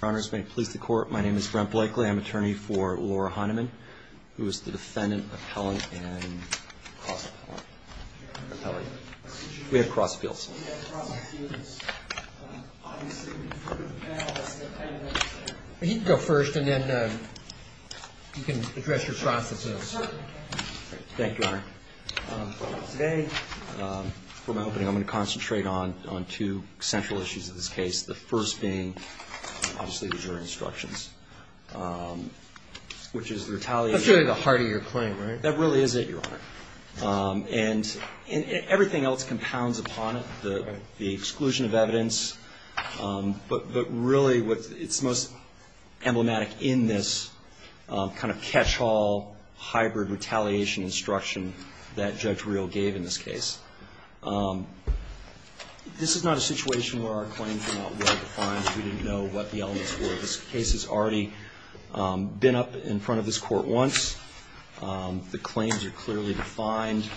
Your Honors, may it please the Court, my name is Brent Blakely. I'm an attorney for Laura Heinemann, who is the defendant, appellant, and cross appellant. We have cross appeals. He can go first and then you can address your process. Thank you, Your Honor. Today, for my opening, I'm going to concentrate on two central issues of this case. The first being, obviously, the jury instructions, which is the retaliation. That's really the heart of your claim, right? That really is it, Your Honor. And everything else compounds upon it, the exclusion of evidence. But really, it's most emblematic in this kind of catch-all, hybrid retaliation instruction that Judge Reel gave in this case. This is not a situation where our claims are not well-defined. We didn't know what the elements were. This case has already been up in front of this Court once. The claims are clearly defined.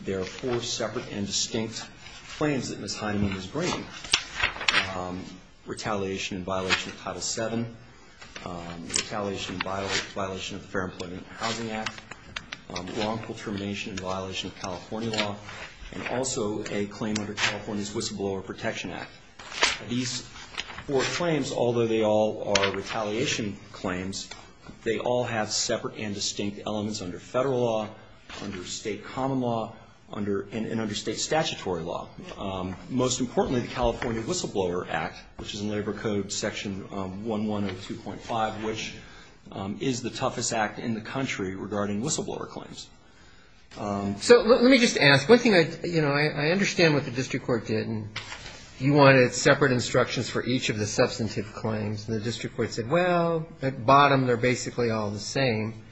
There are four separate and distinct claims that Ms. Heinemann is bringing. Retaliation in violation of Title VII, retaliation in violation of the Fair Employment and Housing Act, wrongful termination in violation of California law, and also a claim under California's Whistleblower Protection Act. These four claims, although they all are retaliation claims, they all have separate and distinct elements under federal law, under state common law, and under state statutory law. Most importantly, the California Whistleblower Act, which is in Labor Code Section 1102.5, which is the toughest act in the country regarding whistleblower claims. So let me just ask. One thing I understand what the district court did, and you wanted separate instructions for each of the substantive claims. And the district court said, well, at the bottom, they're basically all the same.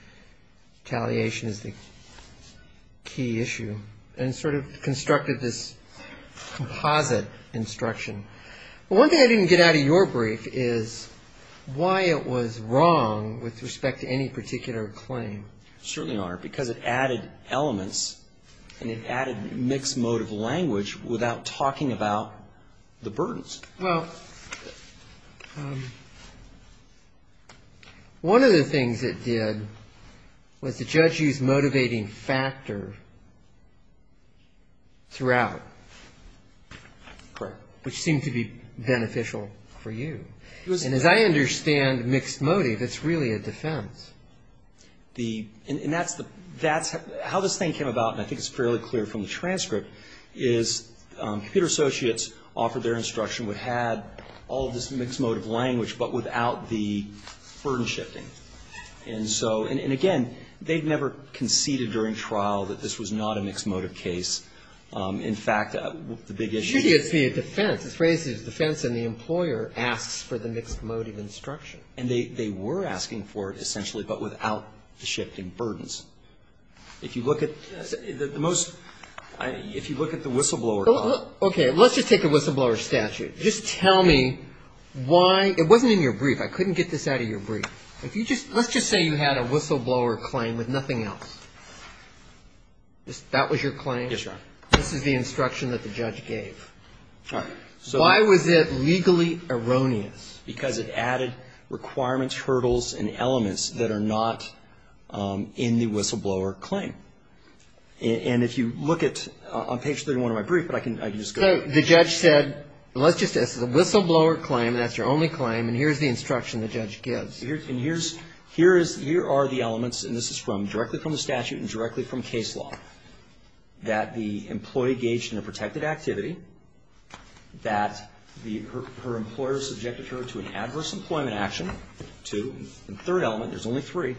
Retaliation is the key issue. And sort of constructed this composite instruction. One thing I didn't get out of your brief is why it was wrong with respect to any particular claim. Certainly are. Because it added elements and it added mixed motive language without talking about the burdens. Well, one of the things it did was the judge used motivating factor throughout. Correct. Which seemed to be beneficial for you. And as I understand mixed motive, it's really a defense. And that's how this thing came about, and I think it's fairly clear from the transcript, is computer associates offered their instruction. We had all of this mixed motive language, but without the burden shifting. And so, and again, they've never conceded during trial that this was not a mixed motive case. In fact, the big issue is. It should be a defense. The phrase is defense, and the employer asks for the mixed motive instruction. And they were asking for it essentially, but without the shifting burdens. If you look at the most, if you look at the whistleblower. Okay. Let's just take the whistleblower statute. Just tell me why. It wasn't in your brief. I couldn't get this out of your brief. Let's just say you had a whistleblower claim with nothing else. That was your claim? Yes, Your Honor. This is the instruction that the judge gave. All right. Why was it legally erroneous? Because it added requirements, hurdles, and elements that are not in the whistleblower claim. And if you look at, on page 31 of my brief, but I can just go. So the judge said, well, let's just say this is a whistleblower claim, and that's your only claim, and here's the instruction the judge gives. And here's, here are the elements, and this is from, directly from the statute and directly from case law. That the employee engaged in a protected activity, that her employer subjected her to an adverse employment action, two. And the third element, there's only three,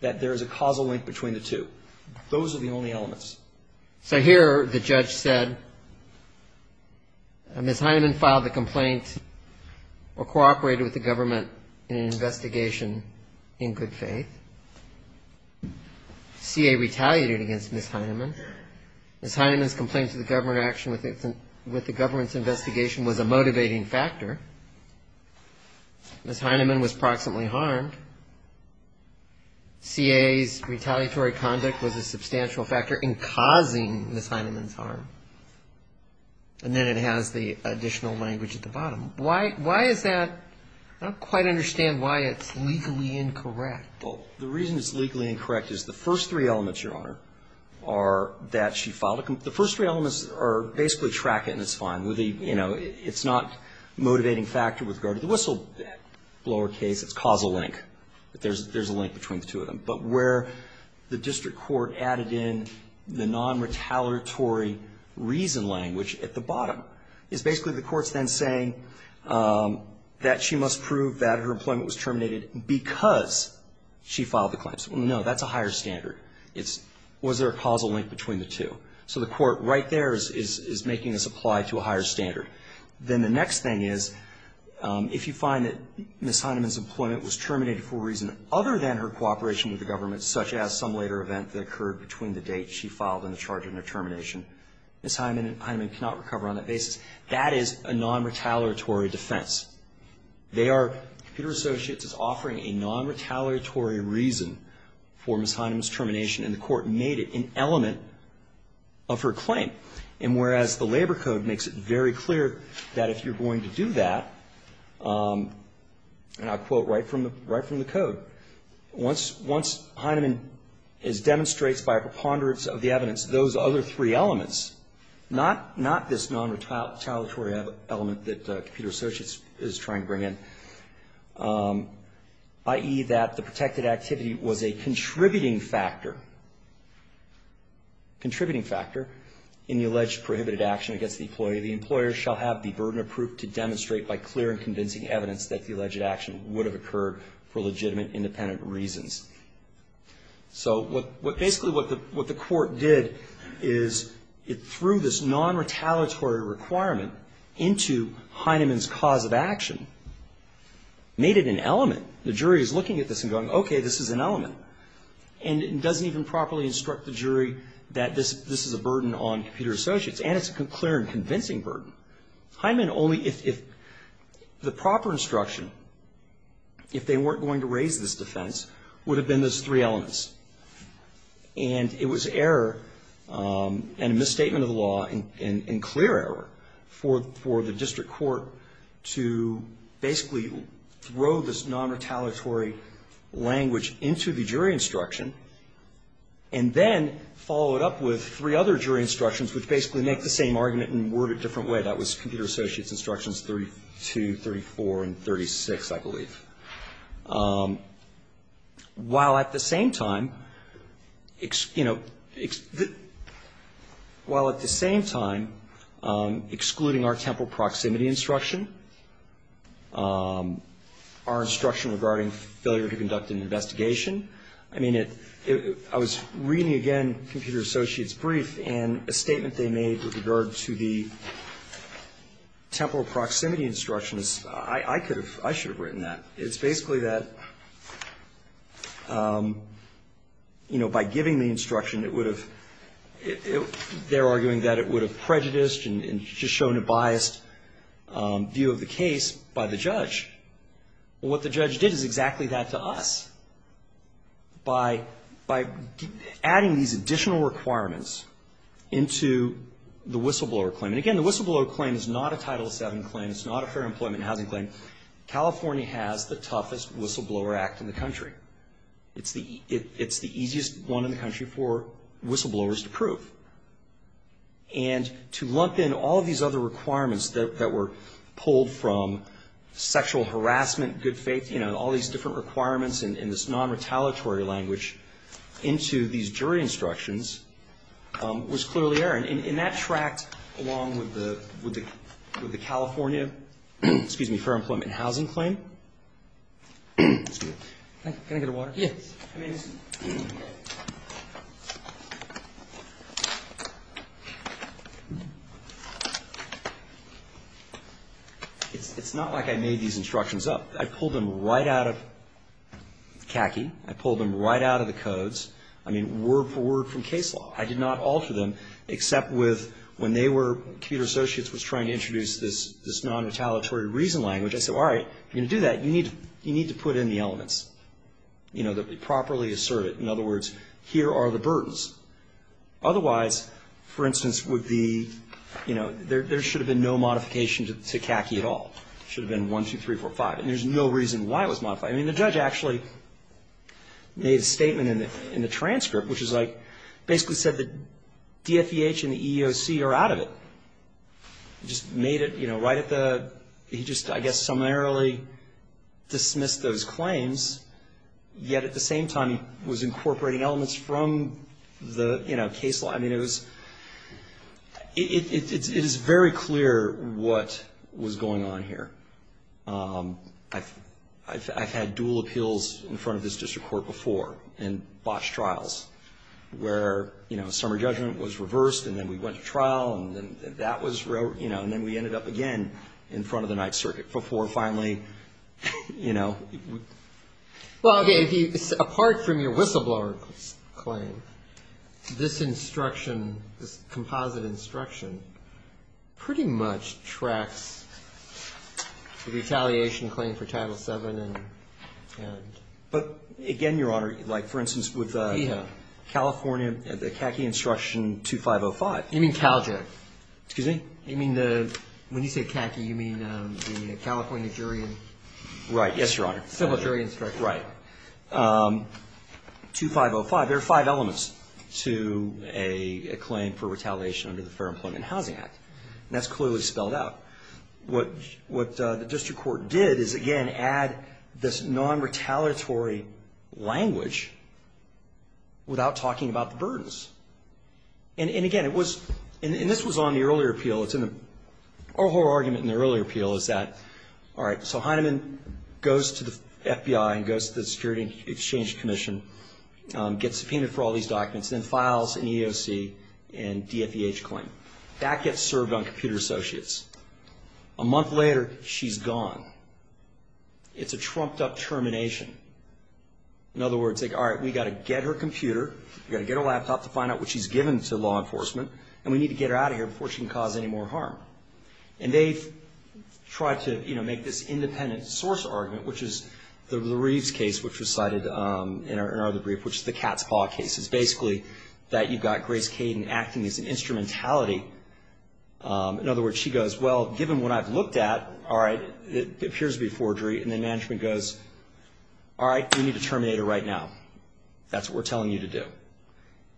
that there is a causal link between the two. Those are the only elements. So here the judge said, Ms. Hyneman filed the complaint or cooperated with the government in an investigation in good faith. C.A. retaliated against Ms. Hyneman. Ms. Hyneman's complaint to the government action with the government's investigation was a motivating factor. Ms. Hyneman was proximately harmed. C.A.'s retaliatory conduct was a substantial factor in causing Ms. Hyneman's harm. And then it has the additional language at the bottom. Why is that? I don't quite understand why it's legally incorrect. Well, the reason it's legally incorrect is the first three elements, Your Honor, are that she filed a complaint. The first three elements are basically track it and it's fine. You know, it's not a motivating factor with regard to the whistleblower case. It's a causal link. There's a link between the two of them. But where the district court added in the non-retaliatory reason language at the bottom is basically the court's then saying, that she must prove that her employment was terminated because she filed the claims. Well, no, that's a higher standard. It's, was there a causal link between the two? So the court right there is making this apply to a higher standard. Then the next thing is, if you find that Ms. Hyneman's employment was terminated for a reason other than her cooperation with the government, such as some later event that occurred between the date she filed and the charge of her termination, Ms. Hyneman cannot recover on that basis. That is a non-retaliatory defense. They are, Computer Associates is offering a non-retaliatory reason for Ms. Hyneman's termination, and the court made it an element of her claim. And whereas the labor code makes it very clear that if you're going to do that, and I'll quote right from the code, once, once Hyneman is, demonstrates by a preponderance of the evidence, those other three elements, not, not this non-retaliatory element that Computer Associates is trying to bring in, i.e. that the protected activity was a contributing factor, contributing factor in the alleged prohibited action against the employee, the employer shall have the burden of proof to demonstrate by clear and convincing evidence that the alleged action would have occurred for legitimate, independent reasons. So what, basically what the, what the court did is it threw this non-retaliatory requirement into Hyneman's cause of action, made it an element. The jury is looking at this and going, okay, this is an element. And it doesn't even properly instruct the jury that this, this is a burden on Computer Associates. And it's a clear and convincing burden. Hyneman only, if, if the proper instruction, if they weren't going to raise this defense, would have been those three elements. And it was error and a misstatement of the law and, and clear error for, for the district court to basically throw this non-retaliatory language into the jury instruction and then follow it up with three other jury instructions, which basically make the same argument and word it a different way. That was Computer Associates Instructions 32, 34, and 36, I believe. While at the same time, you know, while at the same time excluding our temporal proximity instruction, our instruction regarding failure to conduct an investigation. I mean, it, it, I was reading again Computer Associates' brief, and a statement they made with regard to the temporal proximity instructions. I, I could have, I should have written that. It's basically that, you know, by giving the instruction, it would have, they're arguing that it would have prejudiced and just shown a biased view of the case by the judge. Well, what the judge did is exactly that to us. By, by adding these additional requirements into the whistleblower claim. And again, the whistleblower claim is not a Title VII claim. It's not a fair employment housing claim. California has the toughest whistleblower act in the country. It's the, it, it's the easiest one in the country for whistleblowers to prove. And to lump in all these other requirements that, that were pulled from sexual harassment, good faith, you know, all these different requirements in, in this non-retaliatory language into these jury instructions was clearly error. And, and that tracked along with the, with the, with the California, excuse me, fair employment housing claim. Excuse me. Can I get a water? Yes. Please. It's, it's not like I made these instructions up. I pulled them right out of CACI. I pulled them right out of the codes. I mean, word for word from case law. I did not alter them except with when they were, Computer Associates was trying to introduce this, this non-retaliatory reason language. I said, all right, if you're going to do that, you need, you need to put in the elements. You know, that they properly assert it. In other words, here are the burdens. Otherwise, for instance, with the, you know, there, there should have been no modification to CACI at all. It should have been one, two, three, four, five. And there's no reason why it was modified. I mean, the judge actually made a statement in the, in the transcript, which is like basically said that DFEH and the EEOC are out of it. Just made it, you know, right at the, he just, I guess, summarily dismissed those claims. Yet at the same time, he was incorporating elements from the, you know, case law. I mean, it was, it is very clear what was going on here. I've, I've had dual appeals in front of this district court before in botched trials where, you know, the summer judgment was reversed and then we went to trial and then that was, you know, and then we ended up again in front of the Ninth Circuit before finally, you know. Well, okay, if you, apart from your whistleblower claim, this instruction, this composite instruction pretty much tracks the retaliation claim for Title VII and. But again, Your Honor, like, for instance, with California, the CACI instruction 2505. You mean CalJEC? Excuse me? You mean the, when you say CACI, you mean the California jury and. Right, yes, Your Honor. Civil jury instruction. Right. 2505, there are five elements to a claim for retaliation under the Fair Employment and Housing Act. And that's clearly spelled out. What the district court did is, again, add this non-retaliatory language without talking about the burdens. And again, it was, and this was on the earlier appeal. It's in the, our whole argument in the earlier appeal is that, all right, so Heinemann goes to the FBI and goes to the Security Exchange Commission, gets subpoenaed for all these documents, then files an EEOC and DFEH claim. That gets served on computer associates. A month later, she's gone. It's a trumped-up termination. In other words, like, all right, we've got to get her computer, we've got to get her laptop to find out what she's given to law enforcement, and we need to get her out of here before she can cause any more harm. And they've tried to, you know, make this independent source argument, which is the Reeves case, which was cited in our other brief, which is the cat's paw case. It's basically that you've got Grace Kaden acting as an instrumentality. In other words, she goes, well, given what I've looked at, all right, it appears to be forgery. And then management goes, all right, we need to terminate her right now. That's what we're telling you to do.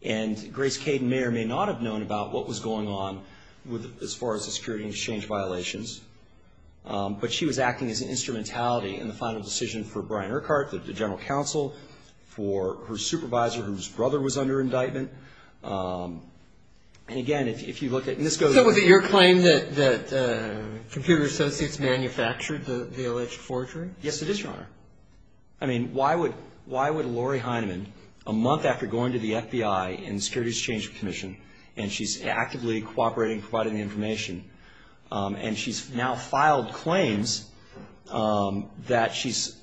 And Grace Kaden may or may not have known about what was going on as far as the security exchange violations, but she was acting as an instrumentality in the final decision for Brian Urquhart, the general counsel, for her supervisor, whose brother was under indictment. And again, if you look at, and this goes on. So was it your claim that Computer Associates manufactured the alleged forgery? Yes, it is, Your Honor. I mean, why would Lori Heineman, a month after going to the FBI and the Security Exchange Commission, and she's actively cooperating, providing the information, and she's now filed claims that she's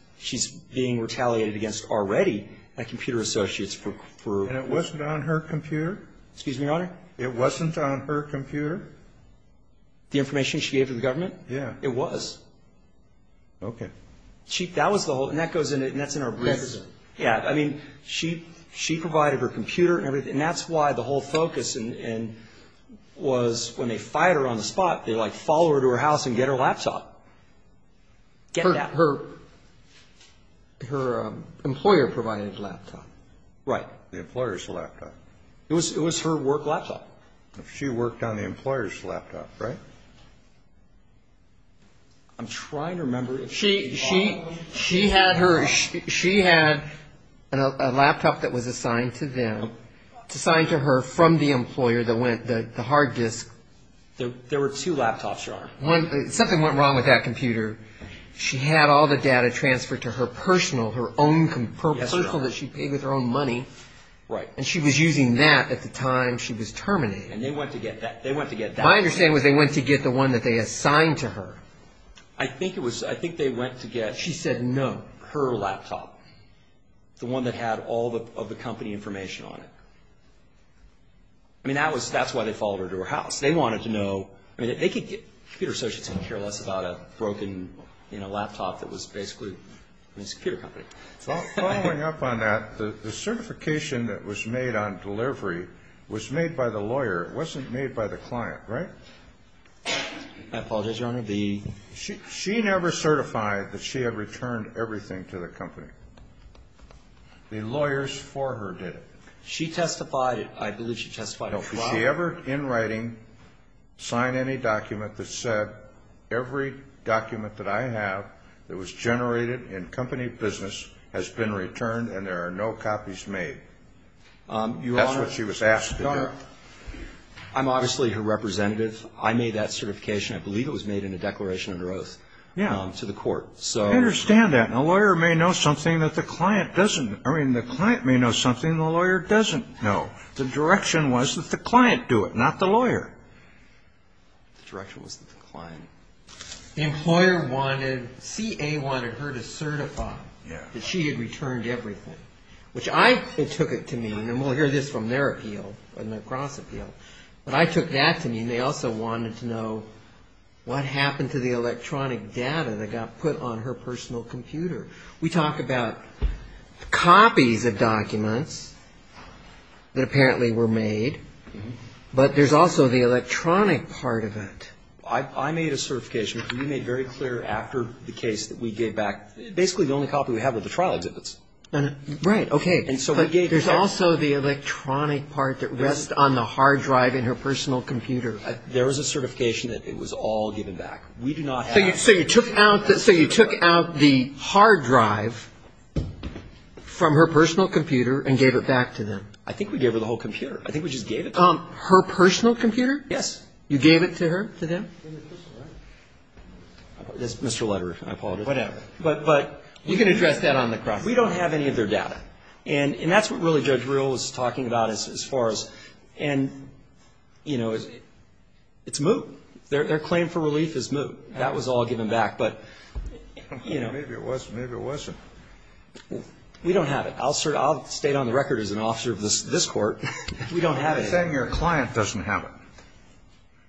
being retaliated against already by Computer Associates for ---- And it wasn't on her computer? Excuse me, Your Honor? It wasn't on her computer? The information she gave to the government? Yeah. It was. Okay. She, that was the whole, and that goes into, and that's in her brief. Yes. Yeah. I mean, she provided her computer and everything. And that's why the whole focus was when they fight her on the spot, they, like, follow her to her house and get her laptop. Get that. Her employer provided a laptop. Right. The employer's laptop. It was her work laptop. She worked on the employer's laptop, right? I'm trying to remember. She had her, she had a laptop that was assigned to them, assigned to her from the employer that went, the hard disk. There were two laptops, Your Honor. One, something went wrong with that computer. She had all the data transferred to her personal, her own personal that she paid with her own money. Right. And she was using that at the time she was terminated. And they went to get that. My understanding was they went to get the one that they assigned to her. I think it was, I think they went to get, she said no, her laptop. The one that had all of the company information on it. I mean, that was, that's why they followed her to her house. They wanted to know, I mean, they could get, computer associates didn't care less about a broken, you know, laptop that was basically, I mean, it's a computer company. Following up on that, the certification that was made on delivery was made by the lawyer. It wasn't made by the client, right? I apologize, Your Honor. She never certified that she had returned everything to the company. The lawyers for her did it. She testified, I believe she testified at trial. No. Did she ever, in writing, sign any document that said every document that I have that was generated in company business has been returned and there are no copies made? That's what she was asked to do. Your Honor, I'm obviously her representative. I made that certification. I believe it was made in a declaration of her oath to the court. Yeah, I understand that. And a lawyer may know something that the client doesn't. I mean, the client may know something the lawyer doesn't know. The direction was that the client do it, not the lawyer. The direction was that the client. The employer wanted, CA wanted her to certify that she had returned everything, which I, it took it to mean, and we'll hear this from their appeal, but I took that to mean they also wanted to know what happened to the electronic data that got put on her personal computer. We talk about copies of documents that apparently were made, but there's also the electronic part of it. I made a certification. We made very clear after the case that we gave back basically the only copy we have of the trial exhibits. Right. Okay. But there's also the electronic part that rests on the hard drive in her personal computer. There was a certification that it was all given back. We do not have that. So you took out the hard drive from her personal computer and gave it back to them? I think we gave her the whole computer. I think we just gave it to them. Her personal computer? Yes. You gave it to her, to them? In the crystal, right? Mr. Lederer, I apologize. Whatever. But you can address that on the cross. We don't have any of their data. And that's what really Judge Real was talking about as far as, and, you know, it's moot. Their claim for relief is moot. That was all given back. But, you know. Maybe it wasn't. Maybe it wasn't. We don't have it. I'll state on the record as an officer of this Court, we don't have it. You're saying your client doesn't have it.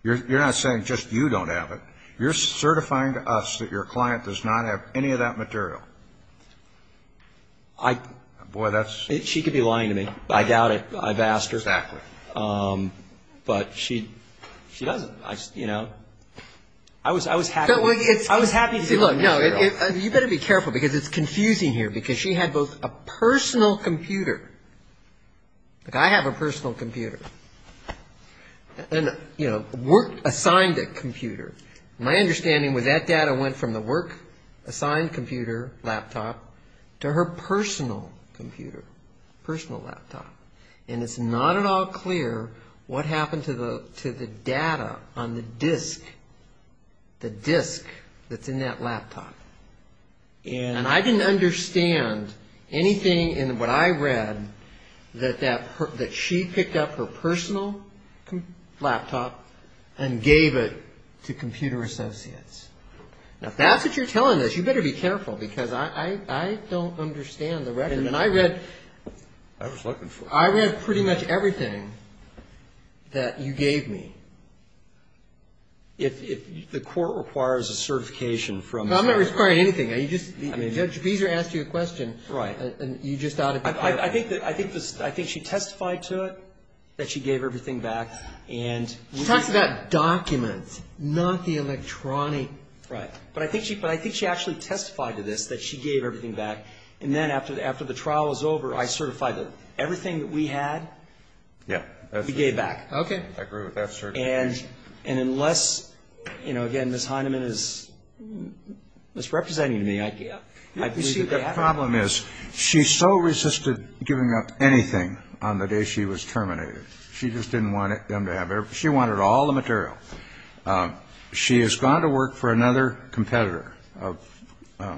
You're not saying just you don't have it. You're certifying to us that your client does not have any of that material. Boy, that's. She could be lying to me. I doubt it. I've asked her. Exactly. But she doesn't. You know. I was happy to give her the material. You better be careful because it's confusing here because she had both a personal computer. I have a personal computer. And, you know, work assigned computer. My understanding was that data went from the work assigned computer, laptop, to her personal computer, personal laptop. And it's not at all clear what happened to the data on the disk, the disk that's in that laptop. And I didn't understand anything in what I read that she picked up her personal laptop and gave it to Computer Associates. Now, if that's what you're telling us, you better be careful because I don't understand the record. And I read. I was looking for it. I read pretty much everything that you gave me. If the court requires a certification from. I'm not requiring anything. You just. Judge Beezer asked you a question. Right. And you just. I think she testified to it, that she gave everything back. She talks about documents, not the electronic. Right. But I think she actually testified to this, that she gave everything back. And then after the trial was over, I certified everything that we had. Yeah. We gave back. Okay. I agree with that certification. And unless, you know, again, Ms. Heineman is misrepresenting to me, I believe that they haven't. You see, the problem is she so resisted giving up anything on the day she was terminated. She just didn't want them to have it. She wanted all the material. She has gone to work for another competitor, the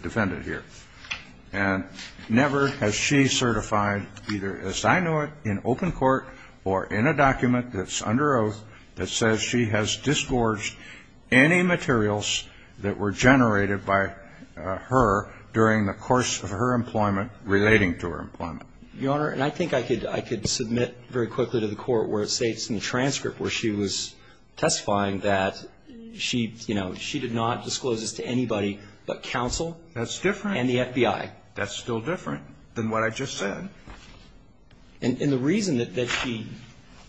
defendant here. And never has she certified either, as I know it, in open court or in a document that's under oath that says she has disgorged any materials that were generated by her during the course of her employment relating to her employment. Your Honor, and I think I could submit very quickly to the court where it states in the transcript where she was testifying that she, you know, she did not disclose this to anybody but counsel. That's different. And the FBI. That's still different than what I just said. And the reason that she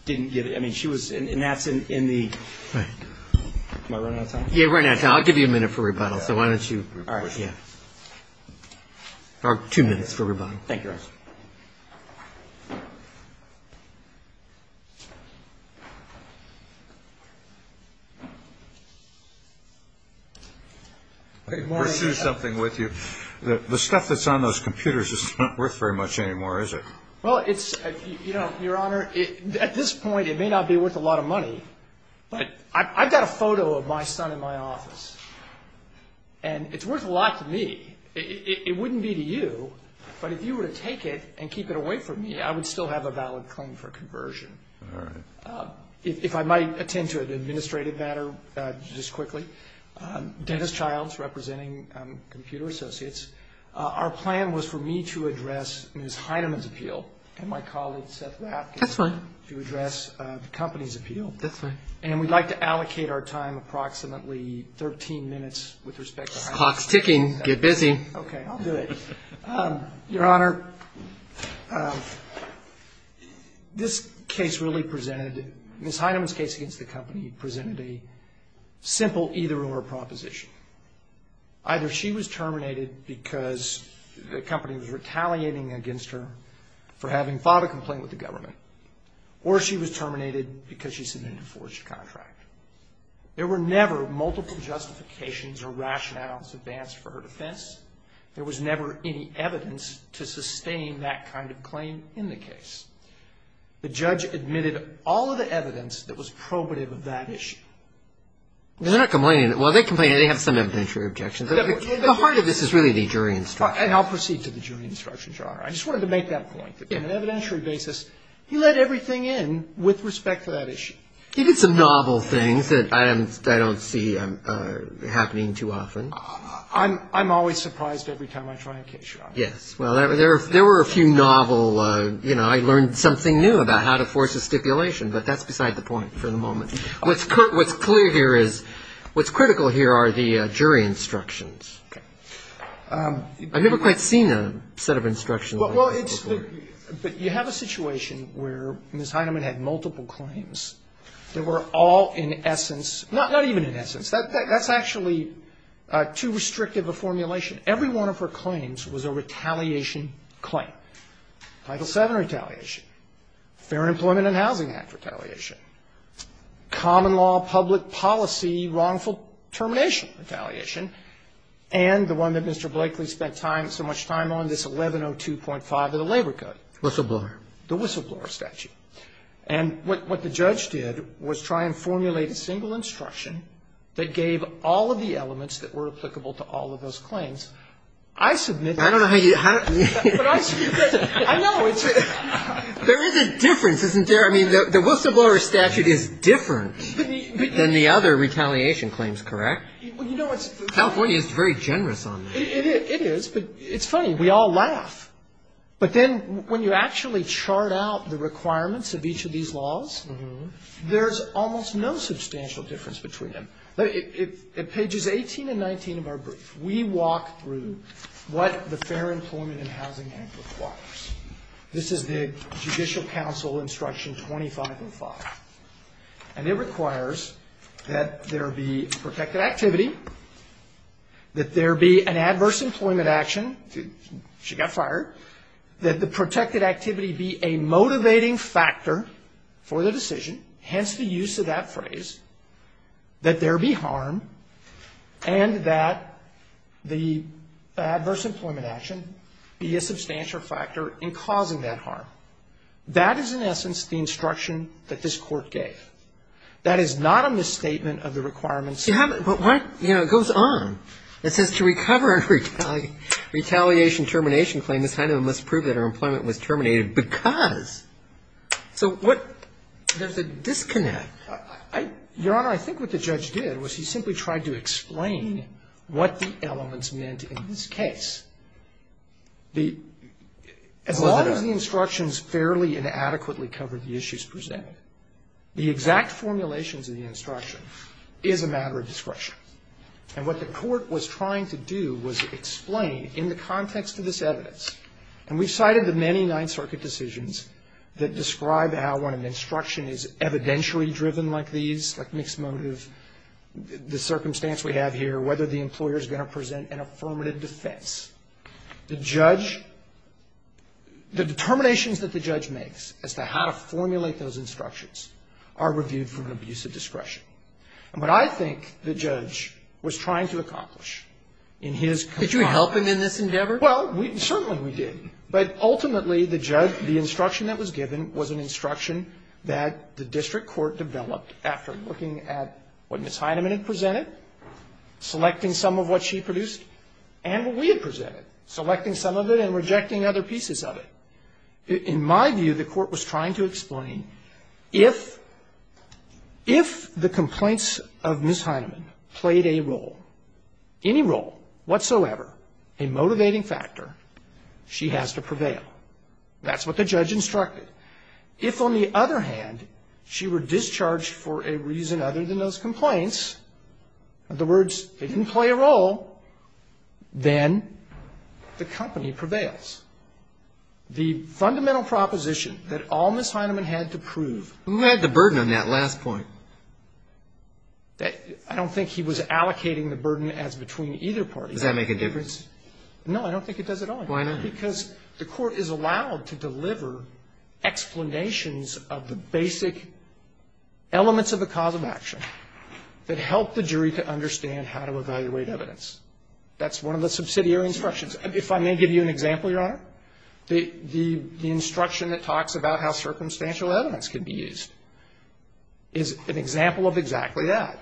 didn't give it, I mean, she was, and that's in the, am I running out of time? Yeah, you're running out of time. I'll give you a minute for rebuttal. So why don't you. All right. Yeah. Or two minutes for rebuttal. Thank you, Your Honor. I can pursue something with you. The stuff that's on those computers is not worth very much anymore, is it? Well, it's, you know, Your Honor, at this point, it may not be worth a lot of money, but I've got a photo of my son in my office. And it's worth a lot to me. It wouldn't be to you. I would still have a valid claim for conversion. All right. If I might attend to an administrative matter just quickly. Dennis Childs representing Computer Associates. Our plan was for me to address Ms. Heineman's appeal and my colleague, Seth Rapkin. That's fine. To address the company's appeal. That's fine. And we'd like to allocate our time approximately 13 minutes with respect to her. Clock's ticking. Get busy. Okay, I'll do it. Your Honor, this case really presented, Ms. Heineman's case against the company presented a simple either or proposition. Either she was terminated because the company was retaliating against her for having filed a complaint with the government, or she was terminated because she submitted a forged contract. There were never multiple justifications or rationales advanced for her defense. There was never any evidence to sustain that kind of claim in the case. The judge admitted all of the evidence that was probative of that issue. They're not complaining. While they complain, they have some evidentiary objections. The heart of this is really the jury instruction. And I'll proceed to the jury instruction, Your Honor. I just wanted to make that point. On an evidentiary basis, he let everything in with respect to that issue. He did some novel things that I don't see happening too often. I'm always surprised every time I try a case, Your Honor. Yes. Well, there were a few novel, you know, I learned something new about how to force a stipulation, but that's beside the point for the moment. What's clear here is, what's critical here are the jury instructions. Okay. I've never quite seen a set of instructions like that before. Well, it's the, you have a situation where Ms. Heineman had multiple claims that were all in essence, not even in essence. That's actually too restrictive a formulation. Every one of her claims was a retaliation claim. Title VII retaliation. Fair Employment and Housing Act retaliation. Common law public policy wrongful termination retaliation. And the one that Mr. Blakely spent time, so much time on, this 1102.5 of the Labor Code. Whistleblower. The whistleblower statute. And what the judge did was try and formulate a single instruction that gave all of the elements that were applicable to all of those claims. I submit. I don't know how you. But I submit. I know. There is a difference, isn't there? I mean, the whistleblower statute is different than the other retaliation claims, correct? California is very generous on that. It is. But it's funny. We all laugh. But then when you actually chart out the requirements of each of these laws, there's almost no substantial difference between them. In pages 18 and 19 of our brief, we walk through what the Fair Employment and Housing Act requires. This is the Judicial Council Instruction 2505. And it requires that there be protected activity, that there be an adverse employment action. She got fired. That the protected activity be a motivating factor for the decision, hence the use of that phrase, that there be harm, and that the adverse employment action be a substantial factor in causing that harm. That is, in essence, the instruction that this Court gave. That is not a misstatement of the requirements. But, you know, it goes on. It says to recover a retaliation termination claim, this kind of must prove that her employment was terminated because. So there's a disconnect. Your Honor, I think what the judge did was he simply tried to explain what the elements meant in this case. As long as the instructions fairly and adequately cover the issues presented, the exact formulations of the instruction is a matter of discretion. And what the Court was trying to do was explain in the context of this evidence, and we've cited the many Ninth Circuit decisions that describe how when an instruction is evidentially driven like these, like mixed motive, the circumstance we have here, whether the employer is going to present an affirmative defense. The judge, the determinations that the judge makes as to how to formulate those instructions are reviewed from an abuse of discretion. And what I think the judge was trying to accomplish in his. Roberts. Could you help him in this endeavor? Well, certainly we did. But ultimately, the judge, the instruction that was given was an instruction that the district court developed after looking at what Ms. Heineman had presented, selecting some of what she produced, and what we had presented, selecting some of it and rejecting other pieces of it. In my view, the Court was trying to explain if, if the complaints of Ms. Heineman played a role, any role whatsoever, a motivating factor, she has to prevail. That's what the judge instructed. If, on the other hand, she were discharged for a reason other than those complaints, in other words, they didn't play a role, then the company prevails. The fundamental proposition that all Ms. Heineman had to prove. Who had the burden on that last point? I don't think he was allocating the burden as between either party. Does that make a difference? No, I don't think it does at all. Why not? Because the Court is allowed to deliver explanations of the basic elements of the cause of action that help the jury to understand how to evaluate evidence. That's one of the subsidiary instructions. If I may give you an example, Your Honor, the instruction that talks about how circumstantial evidence can be used is an example of exactly that.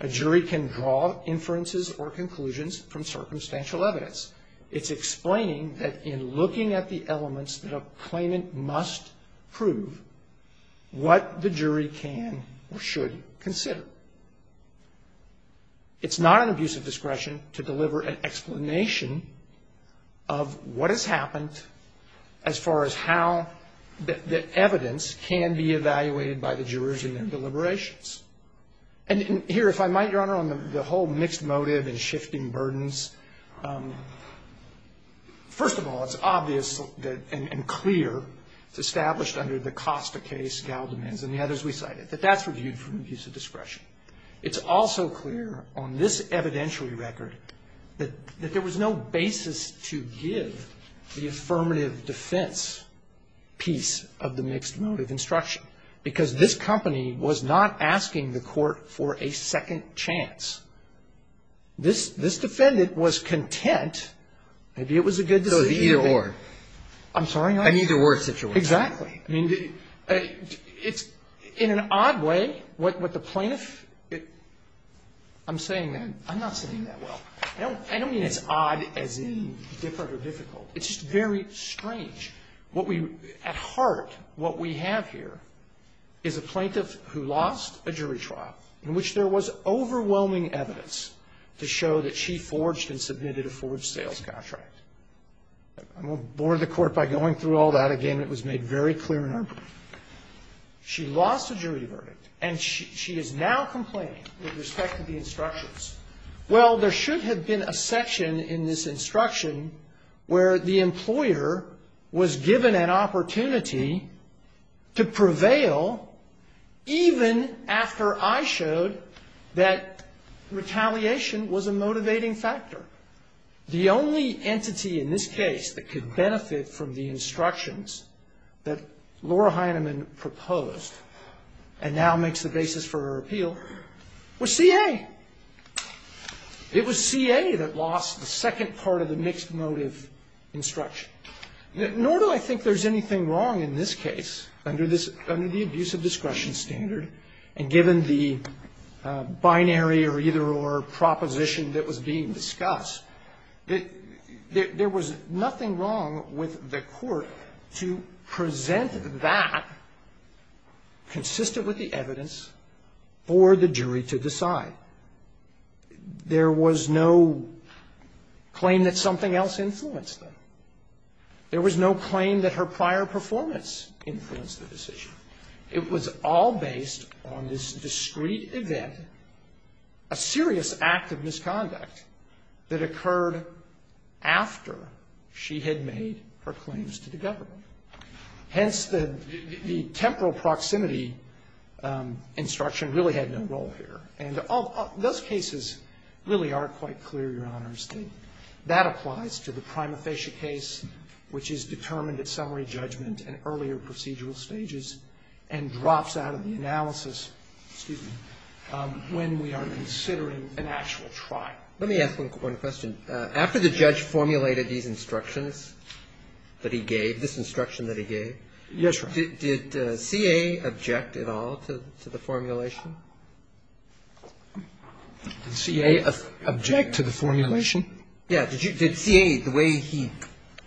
A jury can draw inferences or conclusions from circumstantial evidence. It's explaining that in looking at the elements that a claimant must prove, what the jury can or should consider. It's not an abuse of discretion to deliver an explanation of what has happened as far as how the evidence can be evaluated by the jurors in their deliberations. And here, if I might, Your Honor, on the whole mixed motive and shifting burdens, first of all, it's obvious and clear, it's established under the Costa case, Gal It's also clear on this evidentiary record that there was no basis to give the affirmative defense piece of the mixed motive instruction, because this company was not asking the Court for a second chance. This defendant was content. Maybe it was a good decision. So it was either or. I'm sorry, Your Honor? An either-or situation. Exactly. I mean, it's in an odd way what the plaintiff – I'm saying that. I'm not saying that well. I don't mean it's odd as in different or difficult. It's just very strange. What we – at heart, what we have here is a plaintiff who lost a jury trial in which there was overwhelming evidence to show that she forged and submitted a forged sales contract. I won't bore the Court by going through all that again. It was made very clear in our brief. She lost a jury verdict, and she is now complaining with respect to the instructions. Well, there should have been a section in this instruction where the employer was given an opportunity to prevail even after I showed that retaliation was a motivating factor. However, the only entity in this case that could benefit from the instructions that Laura Heinemann proposed and now makes the basis for her appeal was C.A. It was C.A. that lost the second part of the mixed motive instruction. Nor do I think there's anything wrong in this case under the abuse of discretion standard, and given the binary or either or proposition that was being discussed, that there was nothing wrong with the Court to present that consistent with the evidence for the jury to decide. There was no claim that something else influenced them. There was no claim that her prior performance influenced the decision. It was all based on this discrete event, a serious act of misconduct that occurred after she had made her claims to the government. Hence, the temporal proximity instruction really had no role here. And those cases really are quite clear, Your Honors. That applies to the prima facie case, which is determined at summary judgment and earlier procedural stages and drops out of the analysis, excuse me, when we are considering an actual trial. Let me ask one question. After the judge formulated these instructions that he gave, this instruction that he gave, did C.A. object at all to the formulation? Did C.A. object to the formulation? Yeah. Did C.A., the way he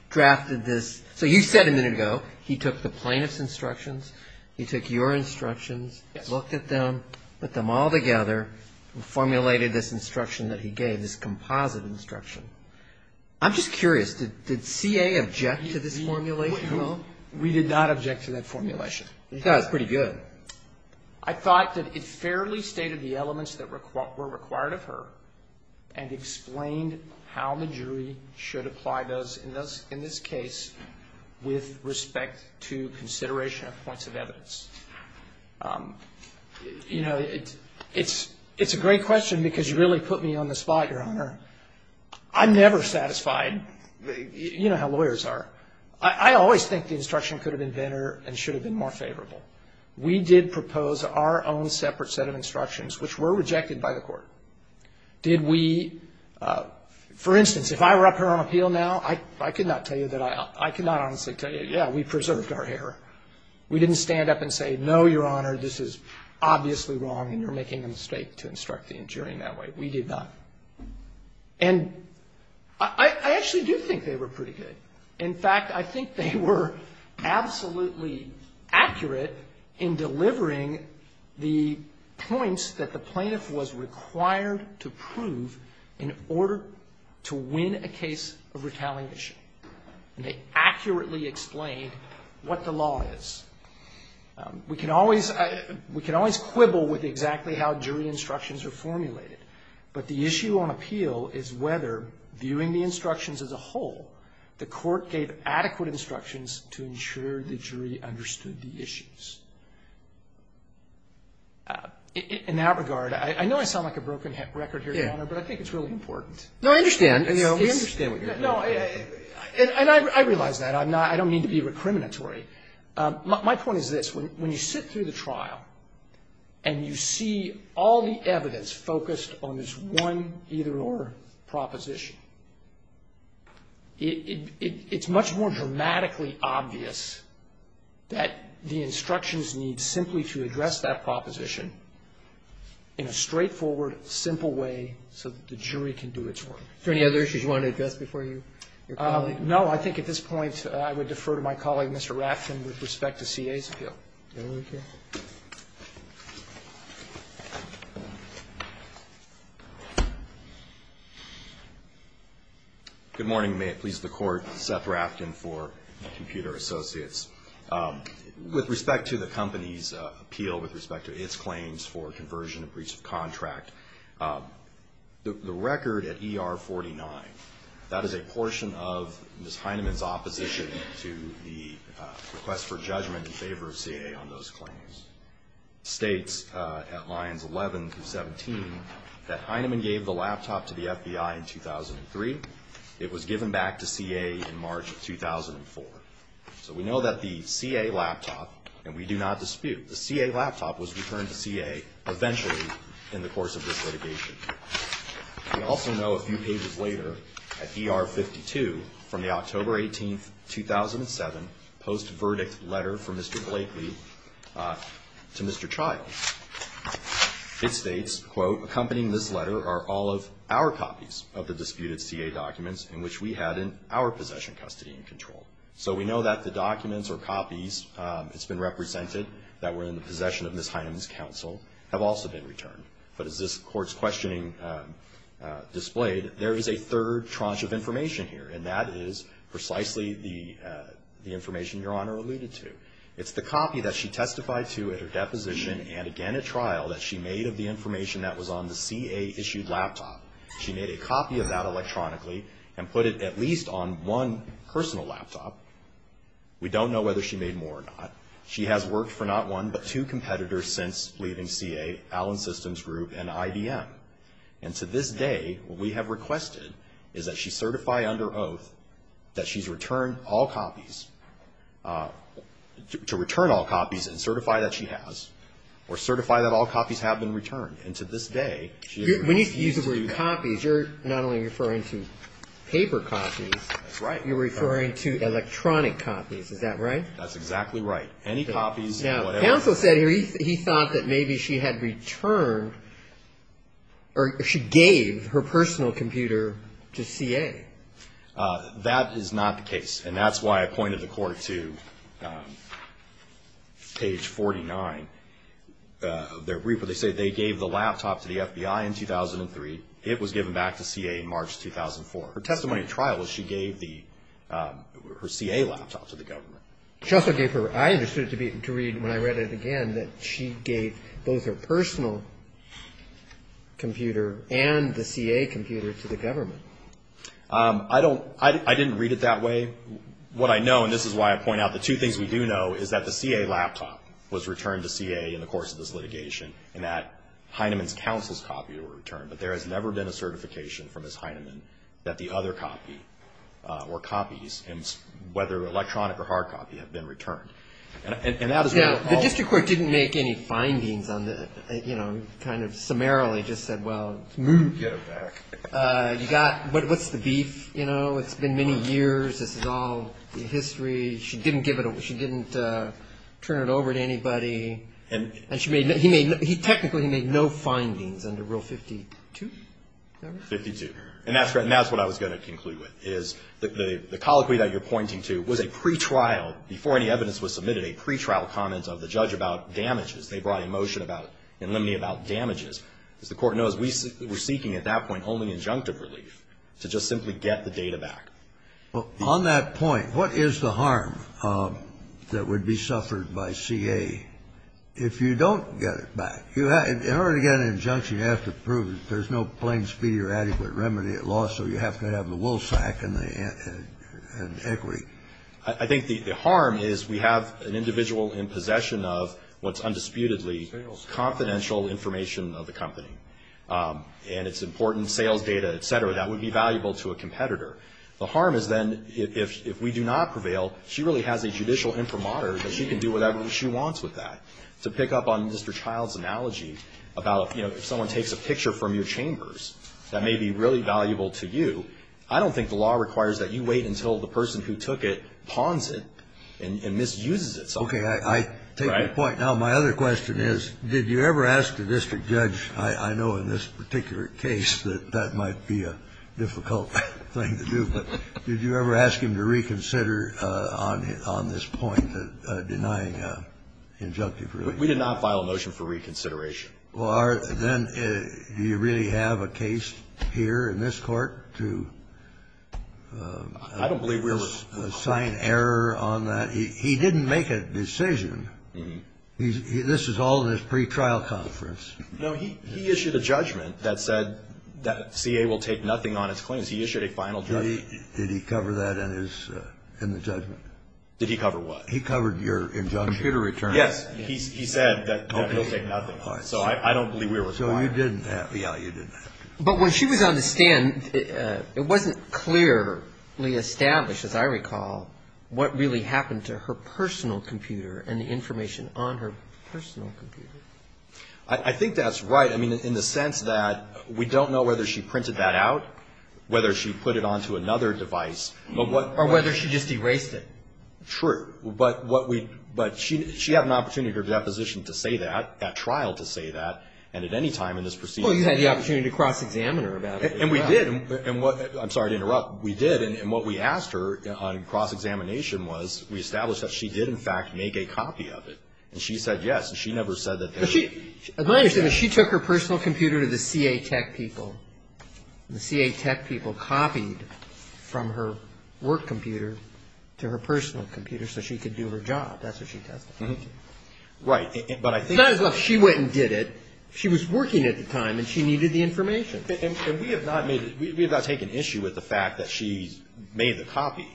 drafted this, so you said a minute ago he took the plaintiff's instructions, he took your instructions, looked at them, put them all together and formulated this instruction that he gave, this composite instruction. I'm just curious. Did C.A. object to this formulation at all? We did not object to that formulation. You thought it was pretty good. I thought that it fairly stated the elements that were required of her and explained how the jury should apply those in this case with respect to consideration of points of evidence. You know, it's a great question because you really put me on the spot, Your Honor. I'm never satisfied. You know how lawyers are. I always think the instruction could have been better and should have been more favorable. We did propose our own separate set of instructions, which were rejected by the Court. Did we, for instance, if I were up here on appeal now, I could not tell you that I, I could not honestly tell you, yeah, we preserved our error. We didn't stand up and say, no, Your Honor, this is obviously wrong and you're making a mistake to instruct the jury in that way. We did not. And I actually do think they were pretty good. In fact, I think they were absolutely accurate in delivering the points that the plaintiff was required to prove in order to win a case of retaliation. And they accurately explained what the law is. We can always, we can always quibble with exactly how jury instructions are formulated, but the issue on appeal is whether, viewing the instructions as a whole, the Court gave adequate instructions to ensure the jury understood the issues. In that regard, I know I sound like a broken record here, Your Honor, but I think it's really important. No, I understand. We understand what you're saying. No, and I realize that. I'm not, I don't mean to be recriminatory. My point is this. When you sit through the trial and you see all the evidence focused on this one either proposition, it's much more dramatically obvious that the instructions need simply to address that proposition in a straightforward, simple way so that the jury can do its work. Are there any other issues you want to address before you? No. I think at this point I would defer to my colleague, Mr. Rafton, with respect to CA's appeal. Can I look here? Good morning. May it please the Court. Seth Rafton for Computer Associates. With respect to the company's appeal, with respect to its claims for conversion and breach of contract, the record at ER 49, that is a portion of Ms. Heinemann's opposition to the request for judgment in favor of CA on those claims, states at lines 11 through 17 that Heinemann gave the laptop to the FBI in 2003. It was given back to CA in March of 2004. So we know that the CA laptop, and we do not dispute, the CA laptop was returned to CA eventually in the course of this litigation. We also know a few pages later at ER 52 from the October 18, 2007, post-verdict letter from Mr. Blakely to Mr. Child, it states, quote, accompanying this letter are all of our copies of the disputed CA documents in which we had in our possession custody and control. So we know that the documents or copies it's been represented that were in the possession of Ms. Heinemann's counsel have also been returned. But as this court's questioning displayed, there is a third tranche of information here, and that is precisely the information Your Honor alluded to. It's the copy that she testified to at her deposition and again at trial that she made of the information that was on the CA-issued laptop. She made a copy of that electronically and put it at least on one personal laptop. We don't know whether she made more or not. She has worked for not one but two competitors since leaving CA, Allen Systems Group and IBM. And to this day, what we have requested is that she certify under oath that she's returned all copies, to return all copies and certify that she has or certify that all copies have been returned. And to this day, she has refused to do that. We need to use the word copies. You're not only referring to paper copies. That's right. You're referring to electronic copies. Is that right? That's exactly right. Any copies, whatever. Now, counsel said here he thought that maybe she had returned or she gave her personal computer to CA. That is not the case. And that's why I pointed the court to page 49 of their brief where they say they gave the laptop to the FBI in 2003. It was given back to CA in March 2004. Her testimony at trial was she gave the, her CA laptop to the government. She also gave her, I understood it to read when I read it again that she gave both her personal computer and the CA computer to the government. I don't, I didn't read it that way. What I know and this is why I point out the two things we do know is that the CA laptop was returned to CA in the course of this litigation and that Heineman's counsel's never been a certification from Ms. Heineman that the other copy or copies, whether electronic or hard copy, have been returned. And that is what it all. Yeah. The district court didn't make any findings on the, you know, kind of summarily just said, well, move. Get her back. You got, what's the beef, you know? It's been many years. This is all in history. She didn't give it, she didn't turn it over to anybody. And she made, he made, he technically made no findings under Rule 52. Is that right? 52. And that's what I was going to conclude with is the colloquy that you're pointing to was a pretrial, before any evidence was submitted, a pretrial comment of the judge about damages. They brought a motion about, in limine about damages. As the court knows, we were seeking at that point only injunctive relief to just simply get the data back. Well, on that point, what is the harm that would be suffered by CA if you don't get it back? In order to get an injunction, you have to prove there's no plain speed or adequate remedy at law, so you have to have the wool sack and equity. I think the harm is we have an individual in possession of what's undisputedly confidential information of the company. And it's important sales data, et cetera, that would be valuable to a competitor. The harm is then if we do not prevail, she really has a judicial imprimatur that she can do whatever she wants with that. To pick up on Mr. Child's analogy about, you know, if someone takes a picture from your chambers, that may be really valuable to you. I don't think the law requires that you wait until the person who took it pawns it and misuses it. Okay. I take your point. Now, my other question is, did you ever ask the district judge? I know in this particular case that that might be a difficult thing to do, but did you ever ask him to reconsider on this point, denying an injunctive? We did not file a motion for reconsideration. Well, then do you really have a case here in this Court to assign error on that? He didn't make a decision. This is all in his pretrial conference. No, he issued a judgment that said that CA will take nothing on its claims. He issued a final judgment. Did he cover that in the judgment? Did he cover what? He covered your injunction. Computer return. Yes. He said that he'll take nothing. So I don't believe we were required. So you didn't have to. Yeah, you didn't have to. But when she was on the stand, it wasn't clearly established, as I recall, what really happened to her personal computer and the information on her personal computer. I think that's right. I mean, in the sense that we don't know whether she printed that out, whether she put it onto another device. Or whether she just erased it. True. But she had an opportunity at her deposition to say that, at trial to say that, and at any time in this proceeding. Well, you had the opportunity to cross-examine her about it. And we did. I'm sorry to interrupt. We did. And what we asked her on cross-examination was we established that she did, in fact, make a copy of it. And she said yes. And she never said that. As I understand it, she took her personal computer to the C.A. Tech people. And the C.A. Tech people copied from her work computer to her personal computer so she could do her job. That's what she tested. Right. But I think. It's not as if she went and did it. She was working at the time, and she needed the information. And we have not made it. We have not taken issue with the fact that she made the copy,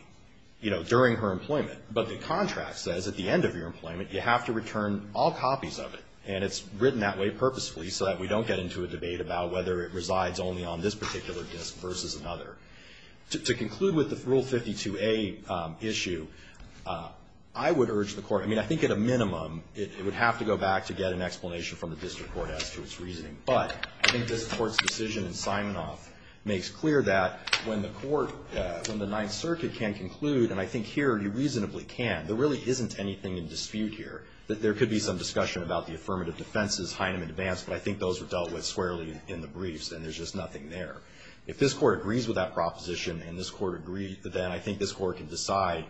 you know, during her employment. But the contract says at the end of your employment, you have to return all copies of it. And it's written that way purposefully so that we don't get into a debate about whether it resides only on this particular disk versus another. To conclude with the Rule 52a issue, I would urge the Court. I mean, I think at a minimum, it would have to go back to get an explanation from the district court as to its reasoning. But I think this Court's decision in Simonoff makes clear that when the court from there really isn't anything in dispute here, that there could be some discussion about the affirmative defenses, Heinemann advance. But I think those were dealt with squarely in the briefs, and there's just nothing there. If this Court agrees with that proposition and this Court agrees, then I think this Court can decide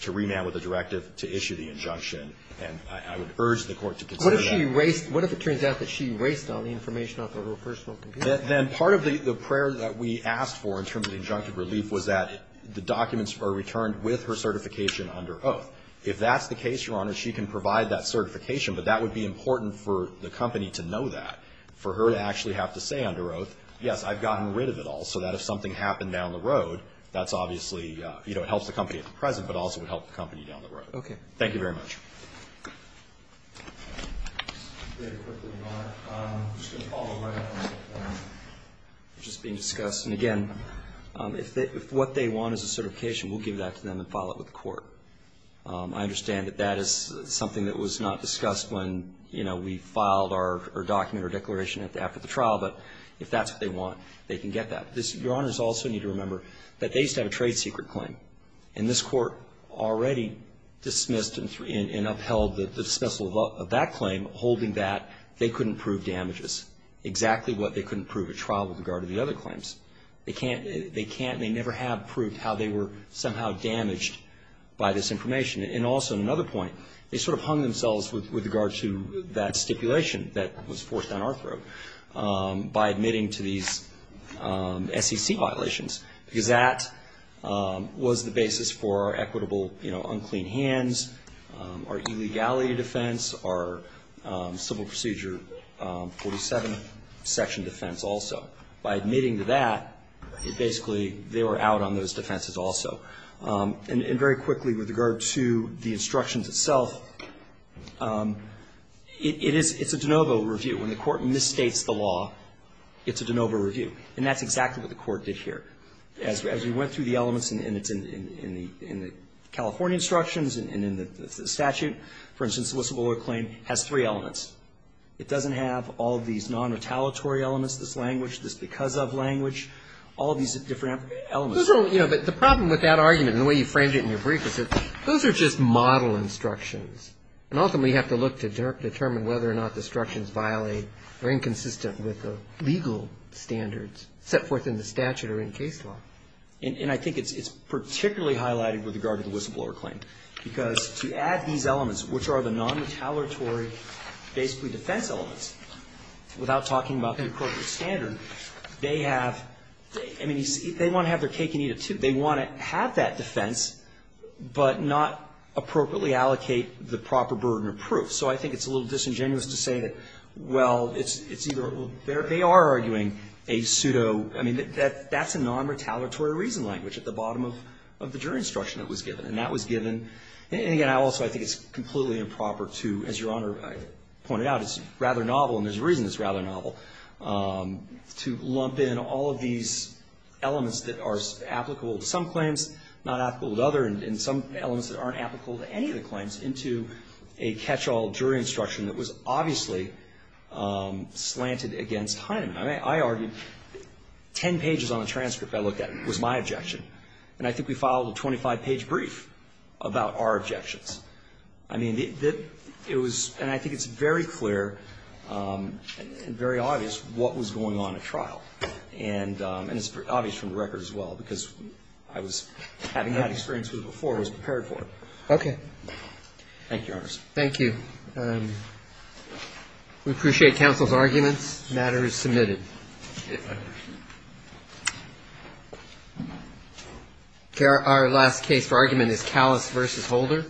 to remand with a directive to issue the injunction. And I would urge the Court to consider that. What if she erased? What if it turns out that she erased all the information off of her personal computer? Then part of the prayer that we asked for in terms of the injunctive relief was that the documents are returned with her certification under oath. If that's the case, Your Honor, she can provide that certification, but that would be important for the company to know that, for her to actually have to say under oath, yes, I've gotten rid of it all, so that if something happened down the road, that's obviously, you know, it helps the company at the present, but also would help the company down the road. Thank you very much. I'm just going to follow right up on what was just being discussed. And, again, if what they want is a certification, we'll give that to them and file it with the Court. I understand that that is something that was not discussed when, you know, we filed our document or declaration after the trial, but if that's what they want, they can get that. Your Honors also need to remember that they used to have a trade secret claim, and this Court already dismissed and upheld the dismissal of that claim, holding that they couldn't prove damages, exactly what they couldn't prove at trial with regard to the other claims. They can't, they can't, they never have proved how they were somehow damaged by this information. And also, another point, they sort of hung themselves with regard to that stipulation that was forced on our throat by admitting to these SEC violations, because that was the basis for our equitable, you know, unclean hands, our illegality defense, our civil procedure 47 section defense also. By admitting to that, it basically, they were out on those defenses also. And very quickly, with regard to the instructions itself, it is, it's a de novo review. When the Court misstates the law, it's a de novo review. And that's exactly what the Court did here. As we went through the elements, and it's in the California instructions and in the statute. For instance, Elissa Ballora's claim has three elements. It doesn't have all of these non-retaliatory elements, this language, this because of language, all of these different elements. But the problem with that argument and the way you framed it in your brief is that those are just model instructions. And ultimately, you have to look to determine whether or not the instructions violate or inconsistent with the legal standards set forth in the statute or in case law. And I think it's particularly highlighted with regard to the Elissa Ballora claim. Because to add these elements, which are the non-retaliatory basically defense elements, without talking about the appropriate standard, they have, I mean, they want to have their cake and eat it, too. They want to have that defense, but not appropriately allocate the proper burden of proof. So I think it's a little disingenuous to say that, well, it's either, they are arguing a pseudo, I mean, that's a non-retaliatory reason language at the bottom of the jury instruction that was given. And that was given. And again, I also think it's completely improper to, as Your Honor pointed out, it's rather novel, and there's a reason it's rather novel, to lump in all of these elements that are applicable to some claims, not applicable to others, and some elements that aren't applicable to any of the claims into a catch-all jury instruction that was obviously slanted against Heinemann. I mean, I argued 10 pages on the transcript I looked at was my objection. And I think we filed a 25-page brief about our objections. I mean, it was, and I think it's very clear and very obvious what was going on at trial. And it's obvious from the record as well, because I was having that experience with it before I was prepared for it. Okay. Thank you, Your Honor. Thank you. We appreciate counsel's arguments. The matter is submitted. Okay. Our last case for argument is Callas v. Holder.